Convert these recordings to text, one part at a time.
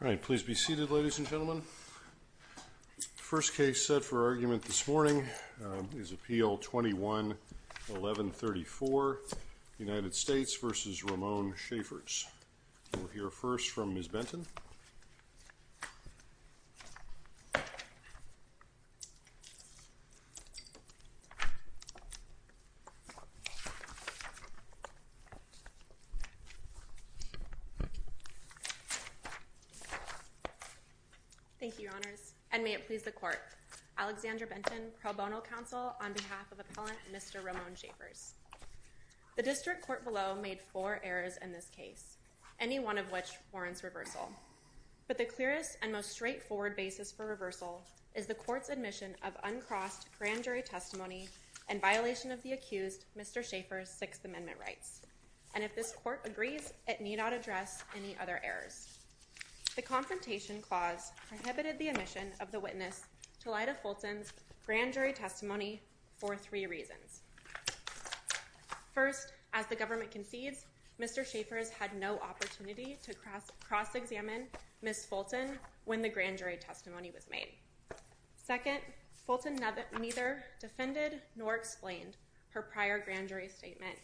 All right, please be seated ladies and gentlemen First case set for argument this morning is appeal 211134 United States versus Ramone Shaffer's we'll hear first from Miss Benton Thank you your honors and may it please the court Alexandra Benton pro bono counsel on behalf of appellant. Mr. Ramone Shaffer's The district court below made four errors in this case any one of which warrants reversal But the clearest and most straightforward basis for reversal is the court's admission of uncrossed grand jury testimony and violation of the accused Mr. Shaffer's Sixth Amendment rights and if this court agrees it need not address any other errors The confrontation clause prohibited the admission of the witness to lie to Fulton's grand jury testimony for three reasons First as the government concedes. Mr. Shaffer's had no opportunity to cross cross-examine Miss Fulton when the grand jury testimony was made Second Fulton never neither defended nor explained her prior grand jury statement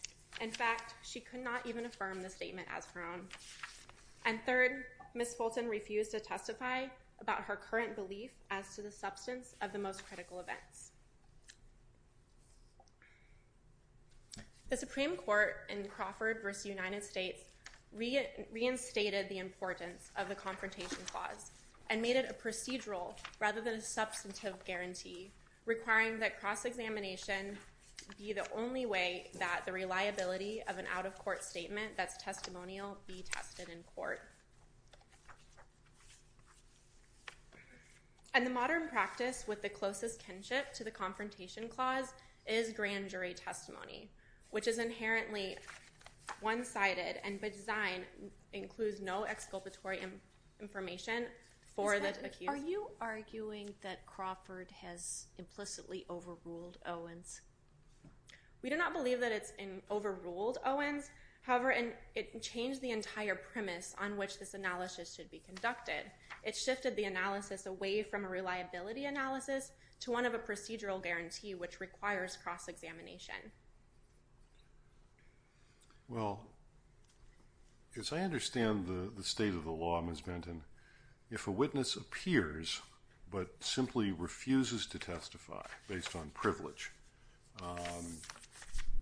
in fact, she could not even affirm the statement as her own and Miss Fulton refused to testify about her current belief as to the substance of the most critical events The Supreme Court in Crawford versus United States Reinstated the importance of the confrontation clause and made it a procedural rather than a substantive guarantee requiring that cross-examination Be the only way that the reliability of an out-of-court statement that's testimonial be tested in court And The modern practice with the closest kinship to the confrontation clause is grand jury testimony, which is inherently one-sided and by design Includes no exculpatory Information for that. Are you arguing that Crawford has implicitly overruled Owens? We do not believe that it's in overruled Owens However, and it changed the entire premise on which this analysis should be conducted It shifted the analysis away from a reliability analysis to one of a procedural guarantee, which requires cross-examination Well Yes, I understand the the state of the law Ms. Benton if a witness appears But simply refuses to testify based on privilege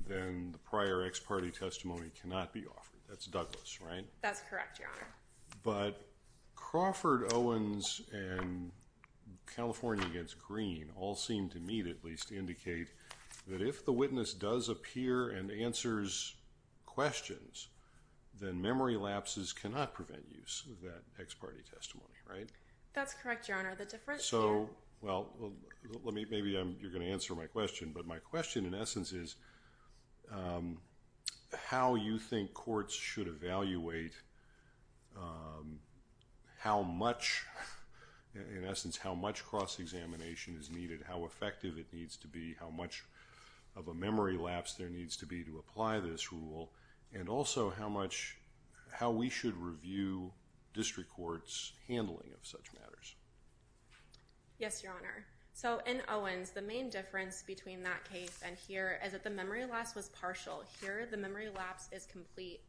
Then the prior ex parte testimony cannot be offered that's Douglas, right? That's correct. Yeah, but Crawford Owens and California gets green all seem to meet at least indicate that if the witness does appear and answers questions Then memory lapses cannot prevent use of that ex parte testimony, right? That's correct. Your honor the difference. Oh, well Let me maybe I'm you're going to answer my question, but my question in essence is How you think courts should evaluate How much In essence how much cross-examination is needed how effective it needs to be how much of a memory lapse? There needs to be to apply this rule and also how much how we should review district courts handling of such matters Yes, your honor So in Owens the main difference between that case and here is that the memory loss was partial here the memory lapse is complete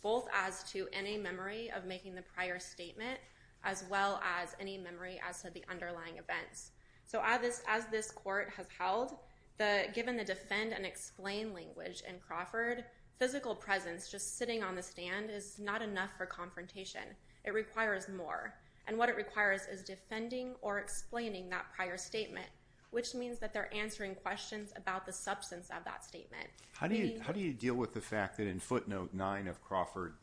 Both as to any memory of making the prior statement as well as any memory as to the underlying events So I this as this court has held the given the defend and explain language in Crawford Physical presence just sitting on the stand is not enough for confrontation It requires more and what it requires is defending or explaining that prior statement Which means that they're answering questions about the substance of that statement How do you how do you deal with the fact that in footnote 9 of Crawford?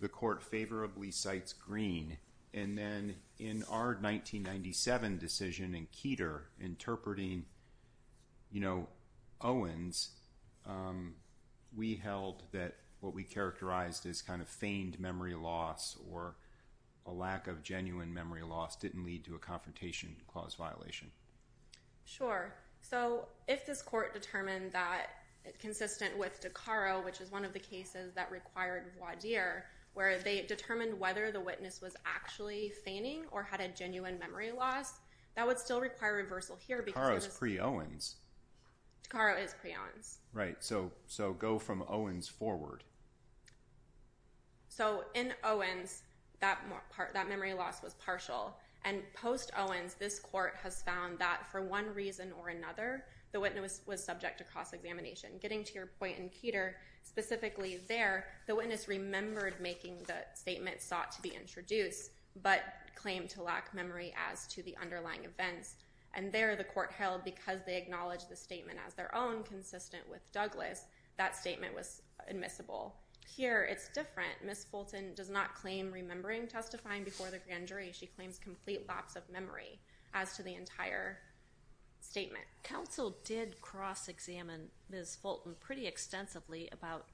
the court favorably cites green and then in our 1997 decision in Keeter interpreting You know Owens We held that what we characterized is kind of feigned memory loss or a Lack of genuine memory loss didn't lead to a confrontation clause violation Sure. So if this court determined that Consistent with Takara, which is one of the cases that required Why dear where they determined whether the witness was actually feigning or had a genuine memory loss? That would still require reversal here because pre Owens Takara is pre Owens, right? So so go from Owens forward So in Owens that more part that memory loss was partial and post Owens This court has found that for one reason or another the witness was subject to cross-examination getting to your point in Keeter Specifically there the witness remembered making the statement sought to be introduced But claimed to lack memory as to the underlying events and there the court held because they acknowledged the statement as their own Consistent with Douglas that statement was admissible here. It's different. Miss Fulton does not claim remembering testifying before the grand jury She claims complete lapse of memory as to the entire Statement council did cross-examine miss Fulton pretty extensively about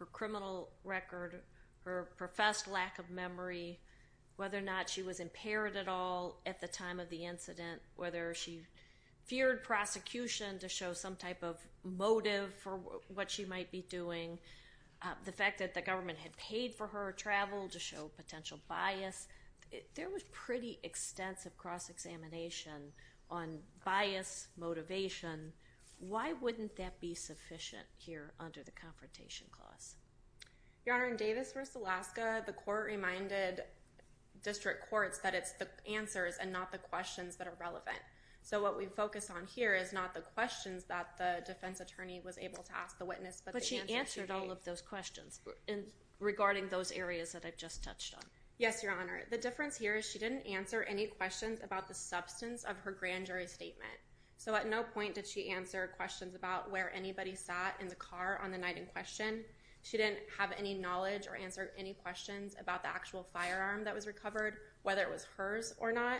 her criminal record her professed lack of memory Whether or not she was impaired at all at the time of the incident whether she feared Prosecution to show some type of motive for what she might be doing The fact that the government had paid for her travel to show potential bias There was pretty extensive cross-examination on bias Motivation, why wouldn't that be sufficient here under the confrontation clause? Your honor in Davis vs. Alaska the court reminded District courts that it's the answers and not the questions that are relevant So what we focus on here is not the questions that the defense attorney was able to ask the witness But she answered all of those questions in regarding those areas that I've just touched on. Yes, Your Honor The difference here is she didn't answer any questions about the substance of her grand jury statement So at no point did she answer questions about where anybody sat in the car on the night in question She didn't have any knowledge or answer any questions about the actual firearm that was recovered whether it was hers or not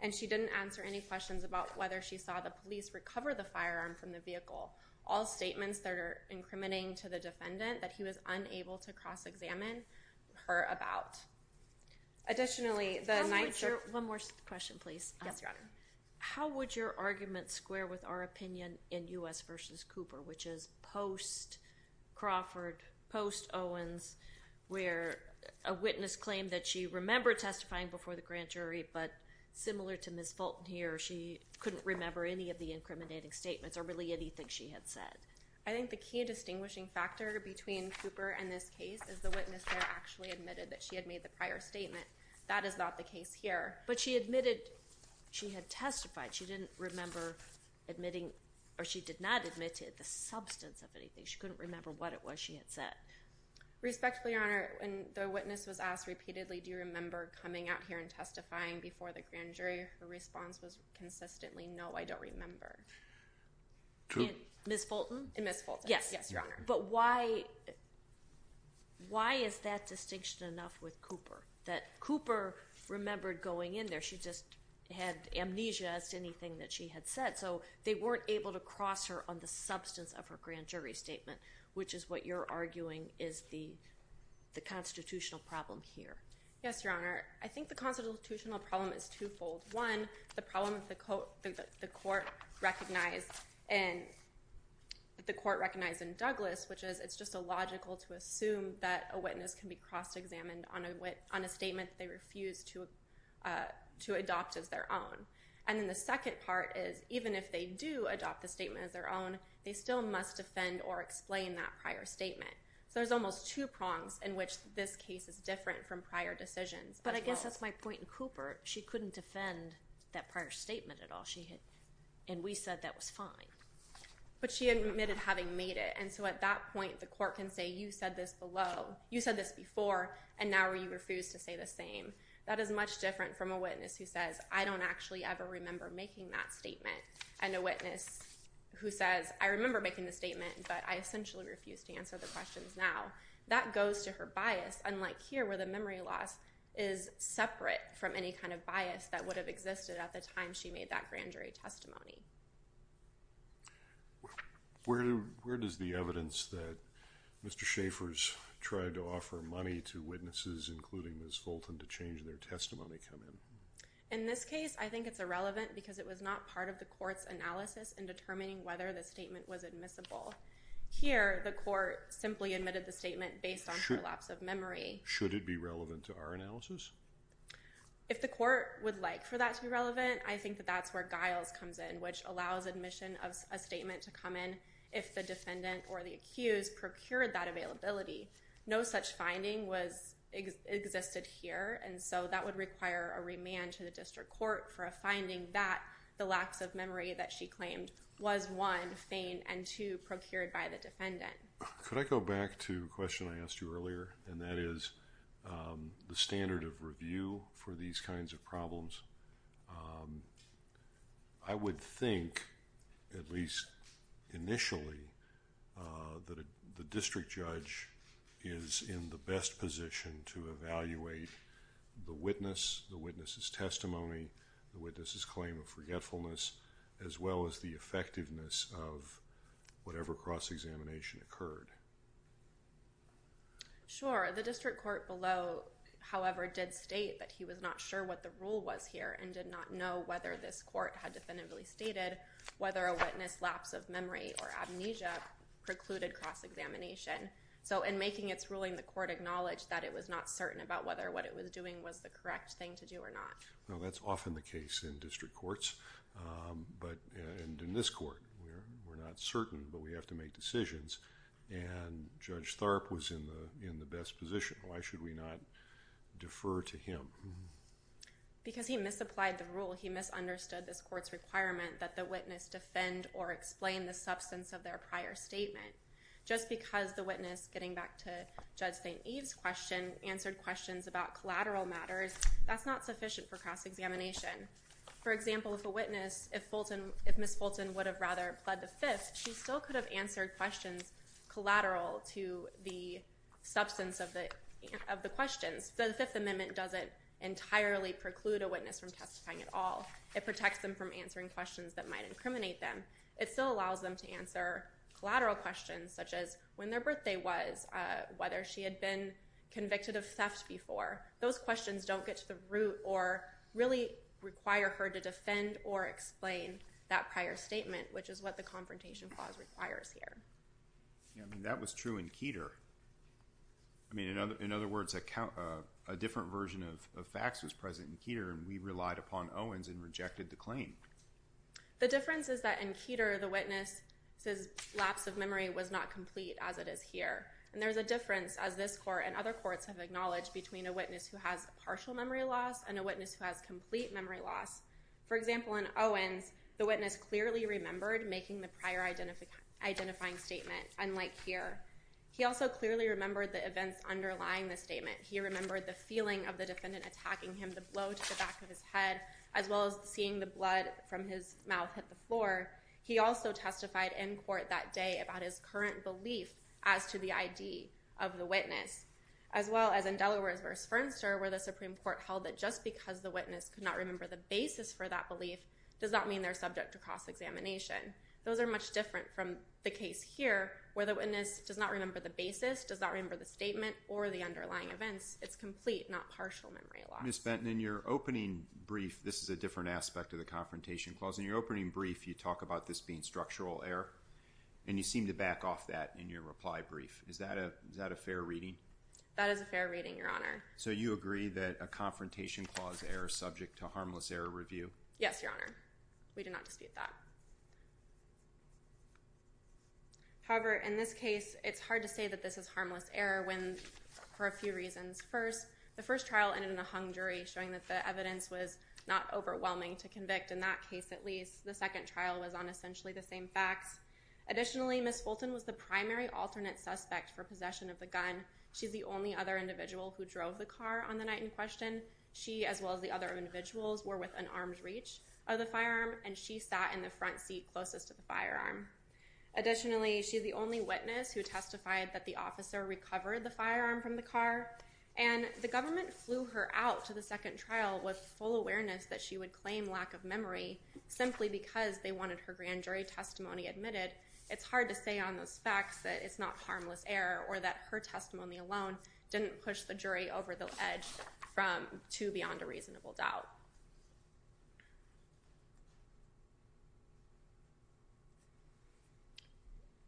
And she didn't answer any questions about whether she saw the police recover the firearm from the vehicle all Statements that are incriminating to the defendant that he was unable to cross-examine her about Additionally the night sure one more question, please. Yes, Your Honor How would your argument square with our opinion in us versus Cooper, which is post? Crawford post Owens Where a witness claimed that she remembered testifying before the grand jury, but similar to miss Fulton here She couldn't remember any of the incriminating statements or really anything She had said I think the key distinguishing factor between Cooper and this case is the witness They're actually admitted that she had made the prior statement. That is not the case here, but she admitted she had testified She didn't remember Admitting or she did not admit to the substance of anything. She couldn't remember what it was. She had said Respectfully on her and the witness was asked repeatedly Do you remember coming out here and testifying before the grand jury her response was consistently? No, I don't remember Miss Fulton, yes, but why? Why is that distinction enough with Cooper that Cooper remembered going in there? She just had amnesia as to anything that she had said so they weren't able to cross her on the substance of her grand jury Statement, which is what you're arguing is the the constitutional problem here. Yes, Your Honor I think the constitutional problem is twofold one the problem with the coat the court recognized and The court recognized in Douglas, which is it's just illogical to assume that a witness can be cross-examined on a wit on a statement they refuse to To adopt as their own and then the second part is even if they do adopt the statement as their own They still must defend or explain that prior statement So there's almost two prongs in which this case is different from prior decisions But I guess that's my point in Cooper. She couldn't defend that prior statement at all. She hit and we said that was fine But she admitted having made it and so at that point the court can say you said this below You said this before and now where you refuse to say the same that is much different from a witness who says I don't actually Ever remember making that statement and a witness Who says I remember making the statement, but I essentially refuse to answer the questions now that goes to her bias unlike here where the memory loss is Separate from any kind of bias that would have existed at the time. She made that grand jury testimony Where Where does the evidence that Mr. Schaefer's tried to offer money to witnesses including this Fulton to change their testimony come in in this case I think it's irrelevant because it was not part of the court's analysis and determining whether the statement was admissible Here the court simply admitted the statement based on her lapse of memory. Should it be relevant to our analysis? If the court would like for that to be relevant I think that that's where Giles comes in which allows admission of a statement to come in if the defendant or the accused procured that availability no such finding was Existed here And so that would require a remand to the district court for a finding that The lapse of memory that she claimed was one faint and to procured by the defendant Could I go back to question? I asked you earlier and that is The standard of review for these kinds of problems I would think at least initially That the district judge is in the best position to evaluate the witness the witnesses testimony the witnesses claim of forgetfulness as well as the effectiveness of whatever cross-examination occurred Sure the district court below However did state that he was not sure what the rule was here and did not know whether this court had definitively stated Whether a witness lapse of memory or amnesia precluded cross-examination So in making its ruling the court acknowledged that it was not certain about whether what it was doing was the correct thing to do Or not. Well, that's often the case in district courts but in this court, we're not certain but we have to make decisions and Judge Tharp was in the in the best position. Why should we not? defer to him Because he misapplied the rule He misunderstood this courts requirement that the witness defend or explain the substance of their prior statement Just because the witness getting back to judge st. Eve's question answered questions about collateral matters That's not sufficient for cross-examination For example, if a witness if Fulton if miss Fulton would have rather pled the fifth she still could have answered questions collateral to the substance of the of the questions So the Fifth Amendment doesn't entirely preclude a witness from testifying at all It protects them from answering questions that might incriminate them. It still allows them to answer Collateral questions such as when their birthday was whether she had been convicted of theft before those questions Don't get to the root or really require her to defend or explain that prior statement Which is what the confrontation clause requires here That was true in Keeter. I Mean another in other words account a different version of facts was present in Keeter and we relied upon Owens and rejected the claim The difference is that in Keeter the witness says lapse of memory was not complete as it is here And there's a difference as this court and other courts have acknowledged between a witness who has partial memory loss and a witness who? Has complete memory loss for example in Owens the witness clearly remembered making the prior Identifying statement unlike here. He also clearly remembered the events underlying the statement He remembered the feeling of the defendant attacking him to blow to the back of his head as well as seeing the blood from his Mouth hit the floor He also testified in court that day about his current belief as to the ID of the witness As well as in Delaware's verse Fernster where the Supreme Court held that just because the witness could not remember the basis for that belief Does that mean they're subject to cross-examination? Those are much different from the case here where the witness does not remember the basis does not remember the statement or the underlying events It's complete not partial memory loss miss Benton in your opening brief This is a different aspect of the confrontation clause in your opening brief You talk about this being structural error, and you seem to back off that in your reply brief Is that a is that a fair reading that is a fair reading your honor? So you agree that a confrontation clause error subject to harmless error review. Yes, your honor. We do not dispute that However In this case, it's hard to say that this is harmless error when for a few reasons first The first trial ended in a hung jury showing that the evidence was not Overwhelming to convict in that case at least the second trial was on essentially the same facts Additionally, miss Fulton was the primary alternate suspect for possession of the gun She's the only other individual who drove the car on the night in question She as well as the other individuals were with an arm's reach of the firearm and she sat in the front seat closest to the firearm Additionally, she's the only witness who testified that the officer recovered the firearm from the car And the government flew her out to the second trial with full awareness that she would claim lack of memory Simply because they wanted her grand jury testimony admitted It's hard to say on those facts that it's not harmless error or that her testimony alone Didn't push the jury over the edge from to beyond a reasonable doubt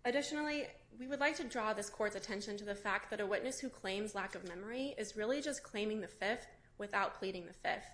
Additionally we would like to draw this courts attention to the fact that a witness who claims lack of memory is really just claiming the Fifth without pleading the fifth.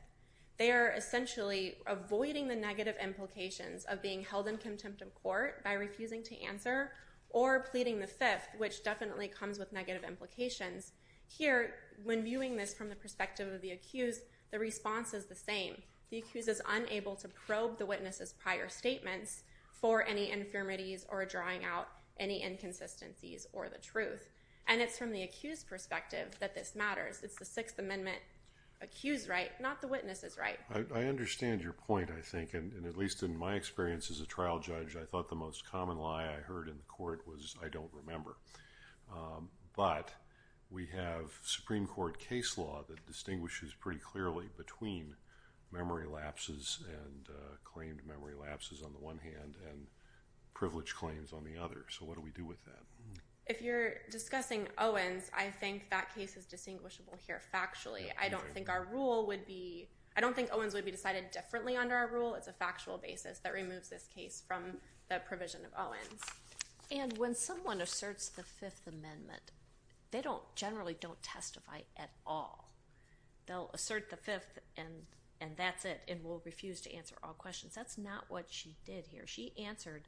They are essentially Avoiding the negative implications of being held in contempt of court by refusing to answer or pleading the fifth Which definitely comes with negative implications Here when viewing this from the perspective of the accused the response is the same The accused is unable to probe the witnesses prior statements for any infirmities or drawing out any Inconsistencies or the truth and it's from the accused perspective that this matters. It's the Sixth Amendment Accused right not the witnesses, right? I understand your point I think and at least in my experience as a trial judge I thought the most common lie I heard in the court was I don't remember but we have Supreme Court case law that distinguishes pretty clearly between memory lapses and Claimed memory lapses on the one hand and privilege claims on the other So what do we do with that if you're discussing Owens? I think that case is distinguishable here factually I don't think our rule would be I don't think Owens would be decided differently under our rule It's a factual basis that removes this case from the provision of Owens and when someone asserts the Fifth Amendment They don't generally don't testify at all They'll assert the fifth and and that's it and will refuse to answer all questions. That's not what she did here. She answered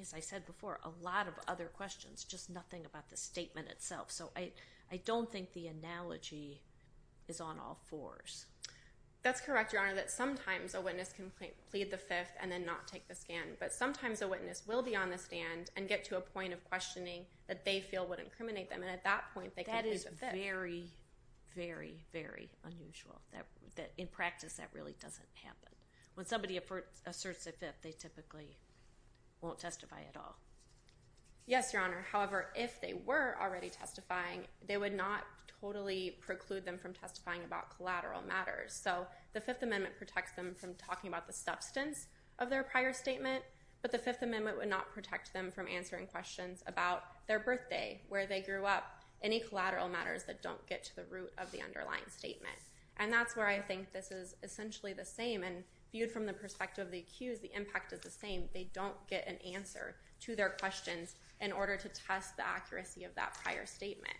As I said before a lot of other questions just nothing about the statement itself. So I I don't think the analogy is on all fours That's correct your honor that sometimes a witness can plead the fifth and then not take the scan but sometimes a witness will be on the stand and get to a point of questioning that they feel would incriminate them and at that point they can use a very Very very unusual that that in practice that really doesn't happen when somebody asserts a fifth they typically Won't testify at all Yes, your honor. However, if they were already testifying they would not totally preclude them from testifying about collateral matters So the Fifth Amendment protects them from talking about the substance of their prior statement but the Fifth Amendment would not protect them from answering questions about their birthday where they grew up any Collateral matters that don't get to the root of the underlying statement And that's where I think this is essentially the same and viewed from the perspective of the accused the impact is the same They don't get an answer to their questions in order to test the accuracy of that prior statement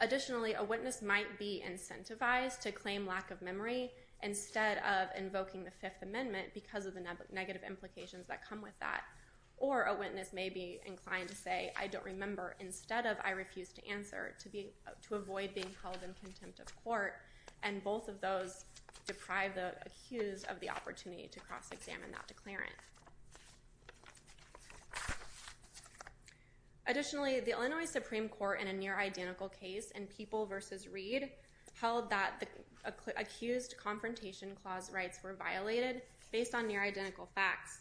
Additionally a witness might be incentivized to claim lack of memory instead of invoking the Fifth Amendment because of the negative implications that come with that or a witness may be inclined to say I don't remember instead of I refuse to answer to be to avoid being held in contempt of Court and both of those Deprive the accused of the opportunity to cross-examine that declarant Additionally The Illinois Supreme Court in a near-identical case and people versus read held that the Accused confrontation clause rights were violated based on near-identical facts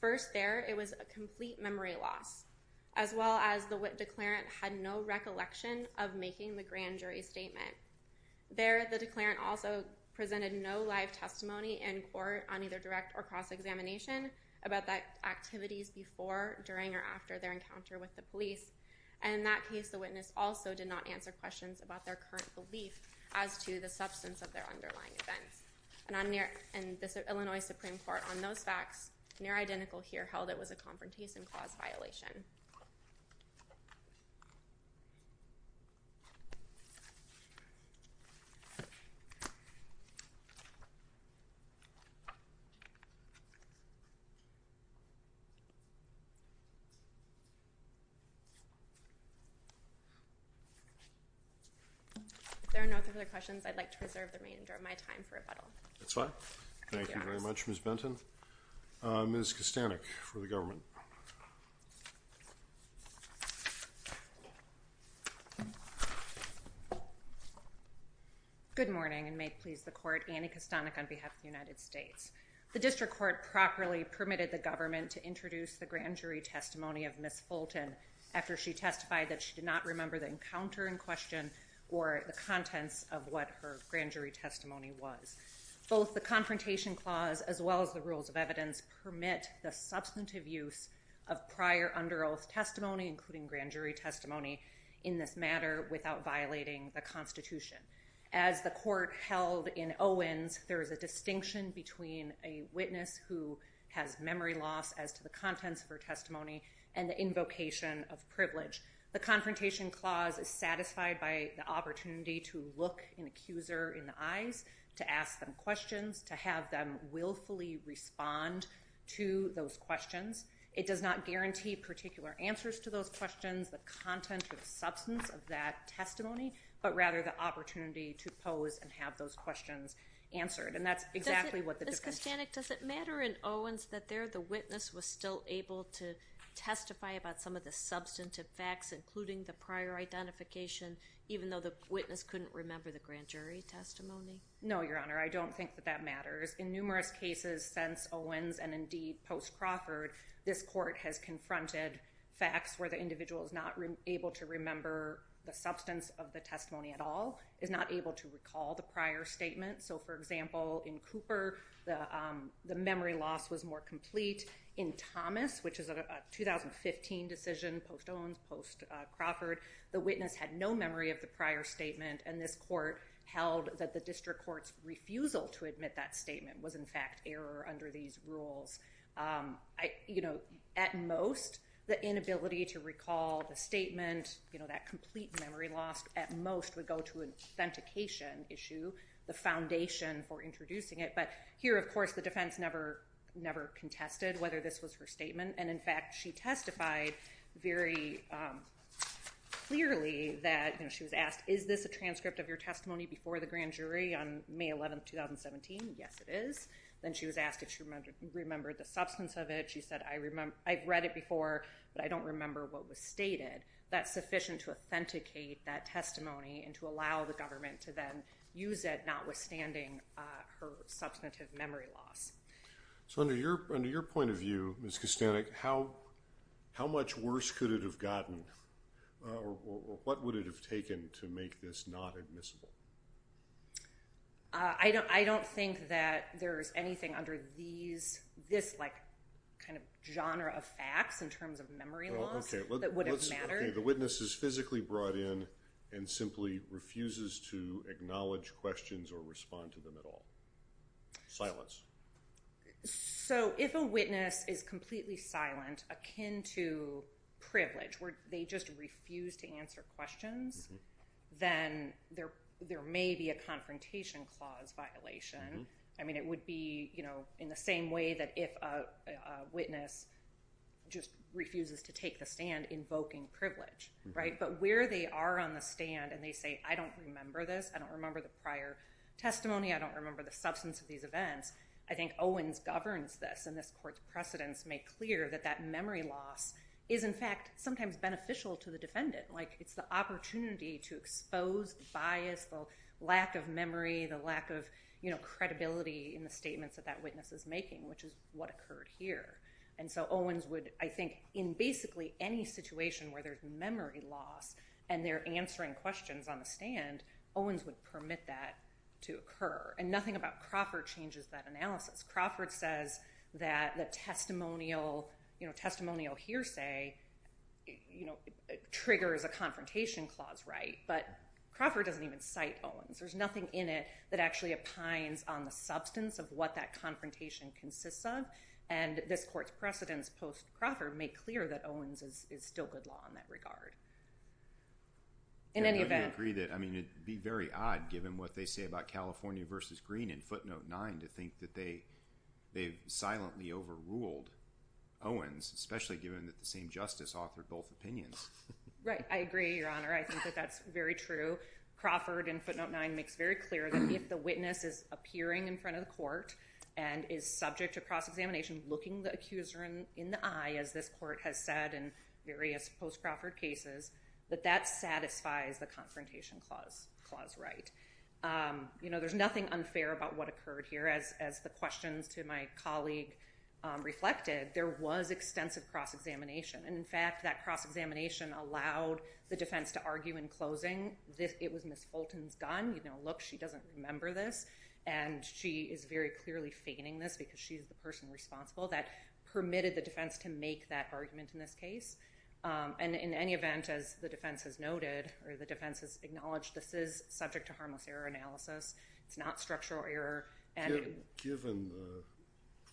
first there It was a complete memory loss as well as the wit declarant had no recollection of making the grand jury statement There the declarant also presented no live testimony in court on either direct or cross-examination About that activities before during or after their encounter with the police and in that case The witness also did not answer questions about their current belief as to the substance of their underlying events And I'm near and this Illinois Supreme Court on those facts near identical here held. It was a confrontation clause violation If there are no further questions, I'd like to reserve the remainder of my time for a puddle, that's fine. Thank you very much miss Benton Miss Kastanek for the government Good morning and may it please the court Annie Kastanek on behalf of the United States the district court properly prescribes Permitted the government to introduce the grand jury testimony of miss Fulton After she testified that she did not remember the encounter in question or the contents of what her grand jury testimony was Both the confrontation clause as well as the rules of evidence permit the substantive use of prior under oath testimony including grand jury testimony in this matter without violating the Constitution as the court held in Owens there is a distinction between a witness who has memory loss as to the contents of her testimony and the Invocation of privilege the confrontation clause is satisfied by the opportunity to look an accuser in the eyes To ask them questions to have them willfully respond to those questions It does not guarantee particular answers to those questions the content of substance of that testimony But rather the opportunity to pose and have those questions answered and that's exactly what the discussion It doesn't matter in Owens that there the witness was still able to testify about some of the substantive facts including the prior Identification even though the witness couldn't remember the grand jury testimony. No, your honor I don't think that that matters in numerous cases since Owens and indeed post Crawford This court has confronted facts where the individual is not able to remember the substance of the testimony at all is not able to recall the prior statement so for example in Cooper the the memory loss was more complete in Thomas, which is a 2015 decision post Owens post Crawford the witness had no memory of the prior statement and this court held that the district courts Refusal to admit that statement was in fact error under these rules I you know at most the inability to recall the statement You know that complete memory lost at most would go to an authentication issue the foundation for introducing it But here, of course the defense never never contested whether this was her statement. And in fact, she testified very Clearly that she was asked is this a transcript of your testimony before the grand jury on May 11th 2017? Yes, it is. Then. She was asked if she remembered remembered the substance of it She said I remember I've read it before but I don't remember what was stated That's sufficient to authenticate that testimony and to allow the government to then use it notwithstanding her substantive memory loss So under your under your point of view miss Castanek, how? How much worse could it have gotten? What would it have taken to make this not admissible I Don't think that there's anything under these this like kind of genre of facts in terms of memory The witness is physically brought in and simply refuses to acknowledge questions or respond to them at all silence so if a witness is completely silent akin to Privilege where they just refuse to answer questions Then there there may be a confrontation clause violation, I mean it would be you know in the same way that if witness Just refuses to take the stand invoking privilege, right? But where they are on the stand and they say I don't remember this I don't remember the prior Testimony, I don't remember the substance of these events I think Owens governs this and this court's precedents make clear that that memory loss is in fact sometimes beneficial to the defendant like it's the opportunity to expose the bias the lack of memory the lack of You know credibility in the statements that that witness is making which is what occurred here And so Owens would I think in basically any situation where there's memory loss and they're answering questions on the stand Owens would permit that to occur and nothing about Crawford changes that analysis Crawford says that the testimonial, you know testimonial hearsay You know triggers a confrontation clause, right? But Crawford doesn't even cite Owens there's nothing in it that actually opines on the substance of what that confrontation consists of and This court's precedents post Crawford make clear that Owens is still good law in that regard In any event read it I mean it'd be very odd given what they say about California versus green in footnote 9 to think that they They've silently overruled Owens especially given that the same justice authored both opinions, right? I agree your honor. I think that that's very true Crawford and footnote 9 makes very clear that if the witness is appearing in front of the court and Is subject to cross-examination looking the accuser in in the eye as this court has said in various post Crawford cases But that satisfies the confrontation clause clause, right? You know, there's nothing unfair about what occurred here as as the questions to my colleague Reflected there was extensive cross-examination And in fact that cross-examination allowed the defense to argue in closing this it was miss Fulton's gun you know look she doesn't remember this and She is very clearly feigning this because she's the person responsible that permitted the defense to make that argument in this case And in any event as the defense has noted or the defense has acknowledged. This is subject to harmless error analysis it's not structural error and given the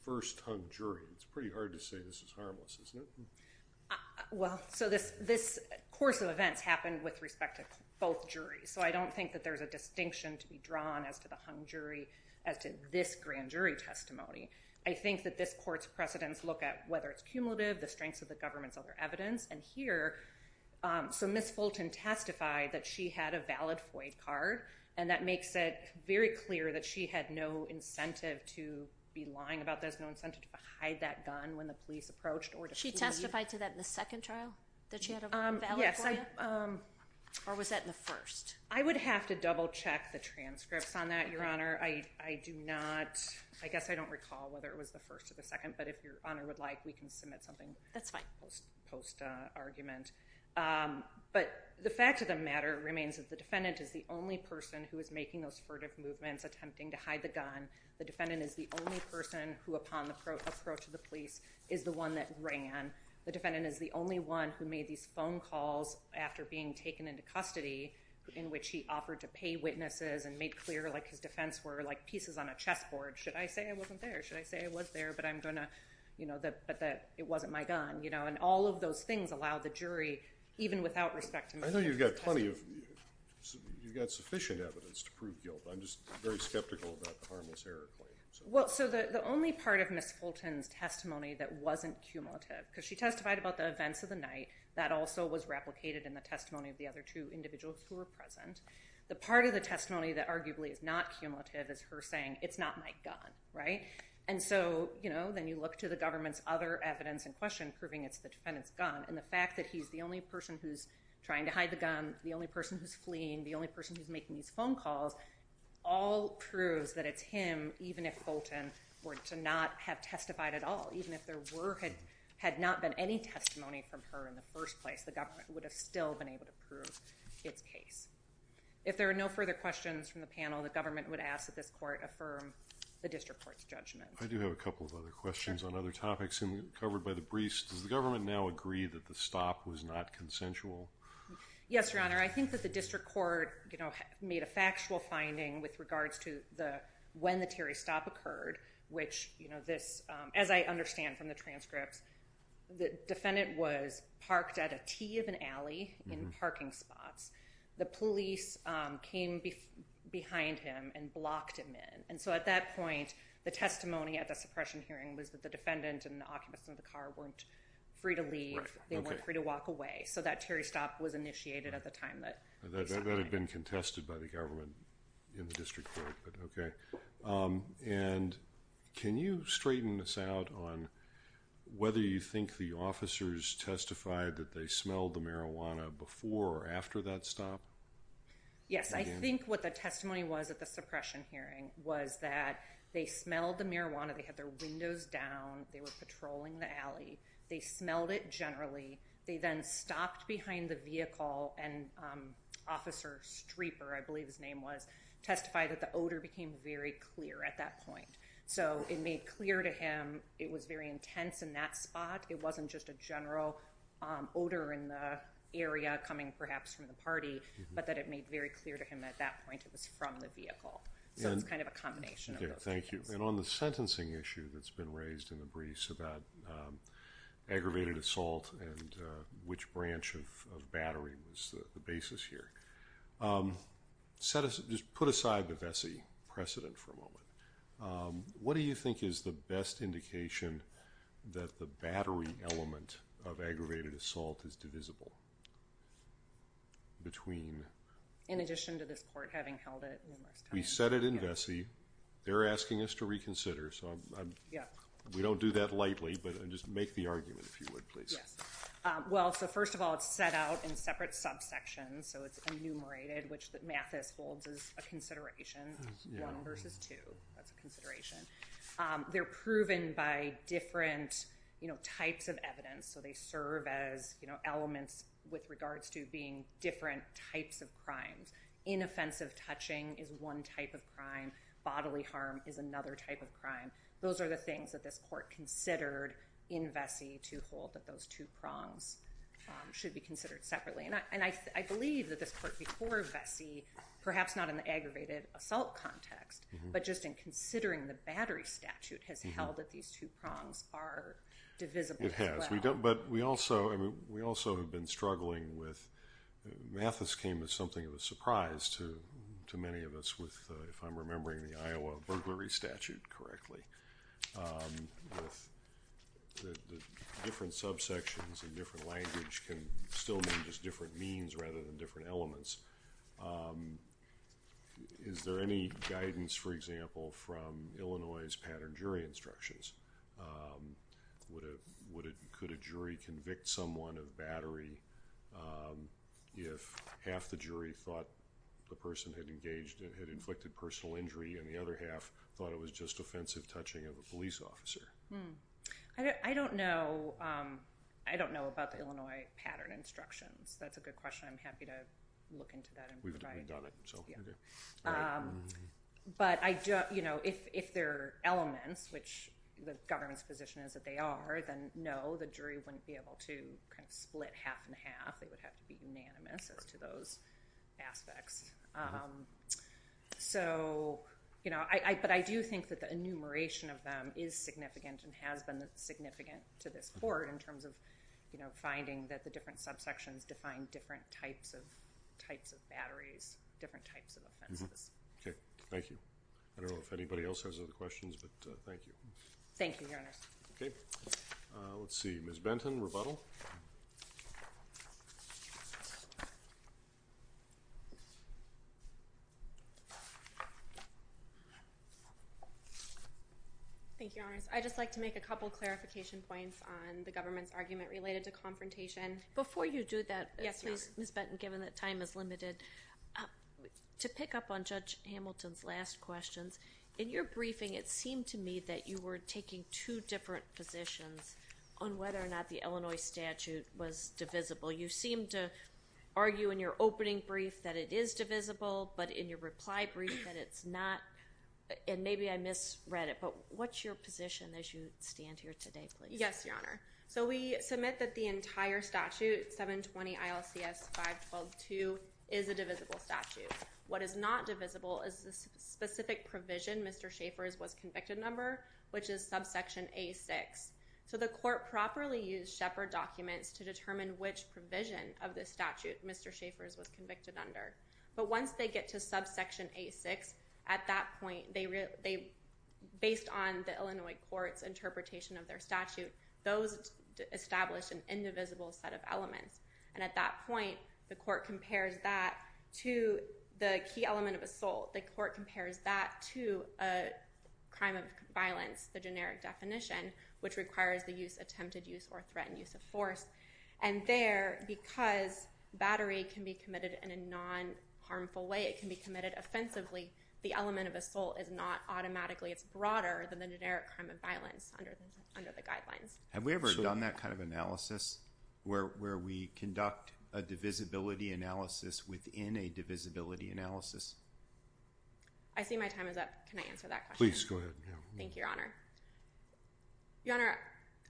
First-time jury, it's pretty hard to say. This is harmless, isn't it? Well, so this this course of events happened with respect to both juries So I don't think that there's a distinction to be drawn as to the hung jury as to this grand jury testimony I think that this court's precedents look at whether it's cumulative the strengths of the government's other evidence and here So miss Fulton testified that she had a valid FOIA card and that makes it very clear that she had no Incentive to be lying about there's no incentive to hide that gun when the police approached or she testified to that in the second trial that she had a valid FOIA Or was that in the first? I would have to double-check the transcripts on that your honor I I do not I guess I don't recall whether it was the first or the second But if your honor would like we can submit something. That's fine post post argument But the fact of the matter remains that the defendant is the only person who is making those furtive movements attempting to hide the gun The defendant is the only person who upon the approach of the police is the one that ran The defendant is the only one who made these phone calls after being taken into custody In which he offered to pay witnesses and made clear like his defense were like pieces on a chessboard Should I say I wasn't there should I say it was there but I'm gonna you know That but that it wasn't my gun, you know, and all of those things allow the jury even without respect to me I know you've got plenty of You've got sufficient evidence to prove guilt, I'm just very skeptical about the harmless error claim Well, so the only part of miss Fulton's testimony that wasn't cumulative because she testified about the events of the night That also was replicated in the testimony of the other two individuals who were present The part of the testimony that arguably is not cumulative is her saying it's not my gun, right? And so, you know then you look to the government's other evidence in question proving it's the defendants gun and the fact that he's the only person who's Trying to hide the gun. The only person who's fleeing the only person who's making these phone calls all Proves that it's him even if Fulton were to not have testified at all Even if there were had had not been any testimony from her in the first place The government would have still been able to prove its case If there are no further questions from the panel, the government would ask that this court affirm the district court's judgment I do have a couple of other questions on other topics and covered by the briefs Does the government now agree that the stop was not consensual? Yes, your honor I think that the district court, you know made a factual finding with regards to the when the Terry stop occurred Which you know this as I understand from the transcripts The defendant was parked at a T of an alley in parking spots The police came behind him and blocked him in and so at that point The testimony at the suppression hearing was that the defendant and the occupants of the car weren't free to leave They weren't free to walk away. So that Terry stop was initiated at the time that Had been contested by the government in the district court, but okay and Can you straighten this out on? Whether you think the officers testified that they smelled the marijuana before or after that stop Yes, I think what the testimony was at the suppression hearing was that they smelled the marijuana Windows down they were patrolling the alley. They smelled it generally they then stopped behind the vehicle and Officer Streeper, I believe his name was testified that the odor became very clear at that point So it made clear to him. It was very intense in that spot. It wasn't just a general Odor in the area coming perhaps from the party, but that it made very clear to him at that point It was from the vehicle Thank you and on the sentencing issue that's been raised in the briefs about Aggravated assault and which branch of battery was the basis here Set us just put aside the Vesey precedent for a moment What do you think is the best indication that the battery element of aggravated assault is divisible? Between In addition to this court having held it we set it in Vesey. They're asking us to reconsider So yeah, we don't do that lightly, but I just make the argument if you would please Well, so first of all, it's set out in separate subsections So it's enumerated which that Mathis holds is a consideration one versus two. That's a consideration They're proven by different, you know types of evidence So they serve as you know elements with regards to being different types of crimes Inoffensive touching is one type of crime bodily harm is another type of crime Those are the things that this court considered in Vesey to hold that those two prongs Should be considered separately and I believe that this court before Vesey perhaps not in the aggravated assault context But just in considering the battery statute has held that these two prongs are It has we don't but we also I mean we also have been struggling with Mathis came as something of a surprise to to many of us with if I'm remembering the Iowa burglary statute correctly Different subsections and different language can still be just different means rather than different elements Is there any guidance for example from Illinois's pattern jury instructions Would it would it could a jury convict someone of battery If half the jury thought The person had engaged and had inflicted personal injury and the other half thought it was just offensive touching of a police officer Hmm, I don't know. I don't know about the Illinois pattern instructions. That's a good question I'm happy to look into that So But I don't you know, if if they're elements which the government's position is that they are then no the jury wouldn't be able to Split half-and-half. They would have to be unanimous as to those aspects So, you know, I but I do think that the enumeration of them is significant and has been significant to this board in terms of you know Different types of offenses. Okay. Thank you. I don't know if anybody else has other questions, but thank you. Thank you Let's see, Miss Benton rebuttal Thank you, I just like to make a couple clarification points on the government's argument related to confrontation before you do that Miss Benton given that time is limited To pick up on judge Hamilton's last questions in your briefing It seemed to me that you were taking two different positions on whether or not the Illinois statute was divisible You seem to argue in your opening brief that it is divisible. But in your reply brief that it's not And maybe I misread it. But what's your position as you stand here today, please? Yes, your honor So we submit that the entire statute 720 ILCS 512 2 is a divisible statute What is not divisible is the specific provision? Mr. Schaffer's was convicted number, which is subsection a 6 So the court properly used Shepherd documents to determine which provision of this statute. Mr. Schaffer's was convicted under but once they get to subsection a 6 at that point they Based on the Illinois courts interpretation of their statute those Established an indivisible set of elements and at that point the court compares that to the key element of assault the court compares that to a crime of violence the generic definition which requires the use attempted use or threatened use of force and there because Battery can be committed in a non-harmful way Offensively the element of assault is not automatically it's broader than the generic crime of violence under the guidelines Have we ever done that kind of analysis where we conduct a divisibility analysis within a divisibility analysis. I See my time is up. Can I answer that please? Go ahead. Thank you, Your Honor Your honor.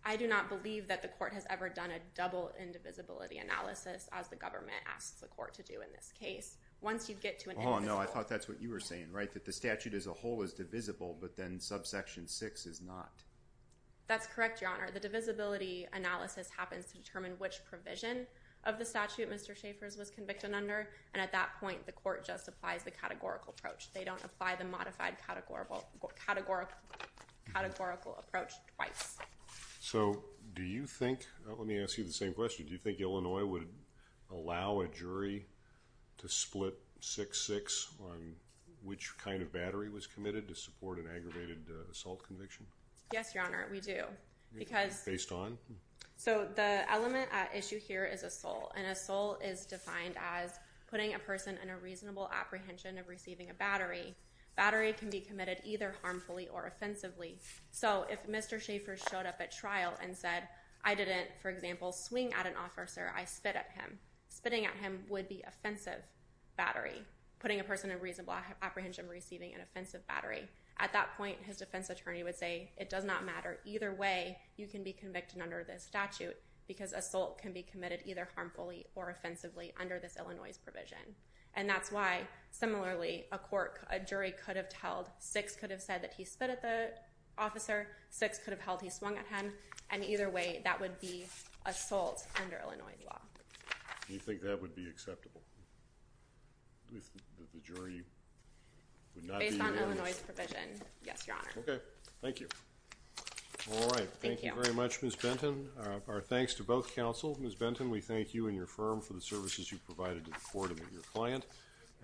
I do not believe that the court has ever done a double indivisibility Analysis as the government asks the court to do in this case once you get to it Oh, no, I thought that's what you were saying, right that the statute as a whole is divisible, but then subsection 6 is not That's correct. Your honor the divisibility analysis happens to determine which provision of the statute. Mr Schaffer's was convicted under and at that point the court just applies the categorical approach. They don't apply the modified categorical Categorical approach twice So, do you think let me ask you the same question, do you think Illinois would allow a jury to split 6-6 Which kind of battery was committed to support an aggravated assault conviction? Yes, your honor We do because based on so the element at issue here is a soul and a soul is defined as Putting a person in a reasonable apprehension of receiving a battery battery can be committed either harmfully or offensively So if mr. Schaffer showed up at trial and said I didn't for example swing at an officer I spit at him spitting at him would be offensive battery putting a person in reasonable apprehension Receiving an offensive battery at that point his defense attorney would say it does not matter either way You can be convicted under this statute because assault can be committed either harmfully or offensively under this Illinois's provision And that's why similarly a court a jury could have told six could have said that he spit at the Officer six could have held he swung at him and either way that would be a salt under Illinois's law You think that would be acceptable? Okay, thank you All right. Thank you very much miss Benton our thanks to both counsel miss Benton we thank you and your firm for the services you provided to the court of your client and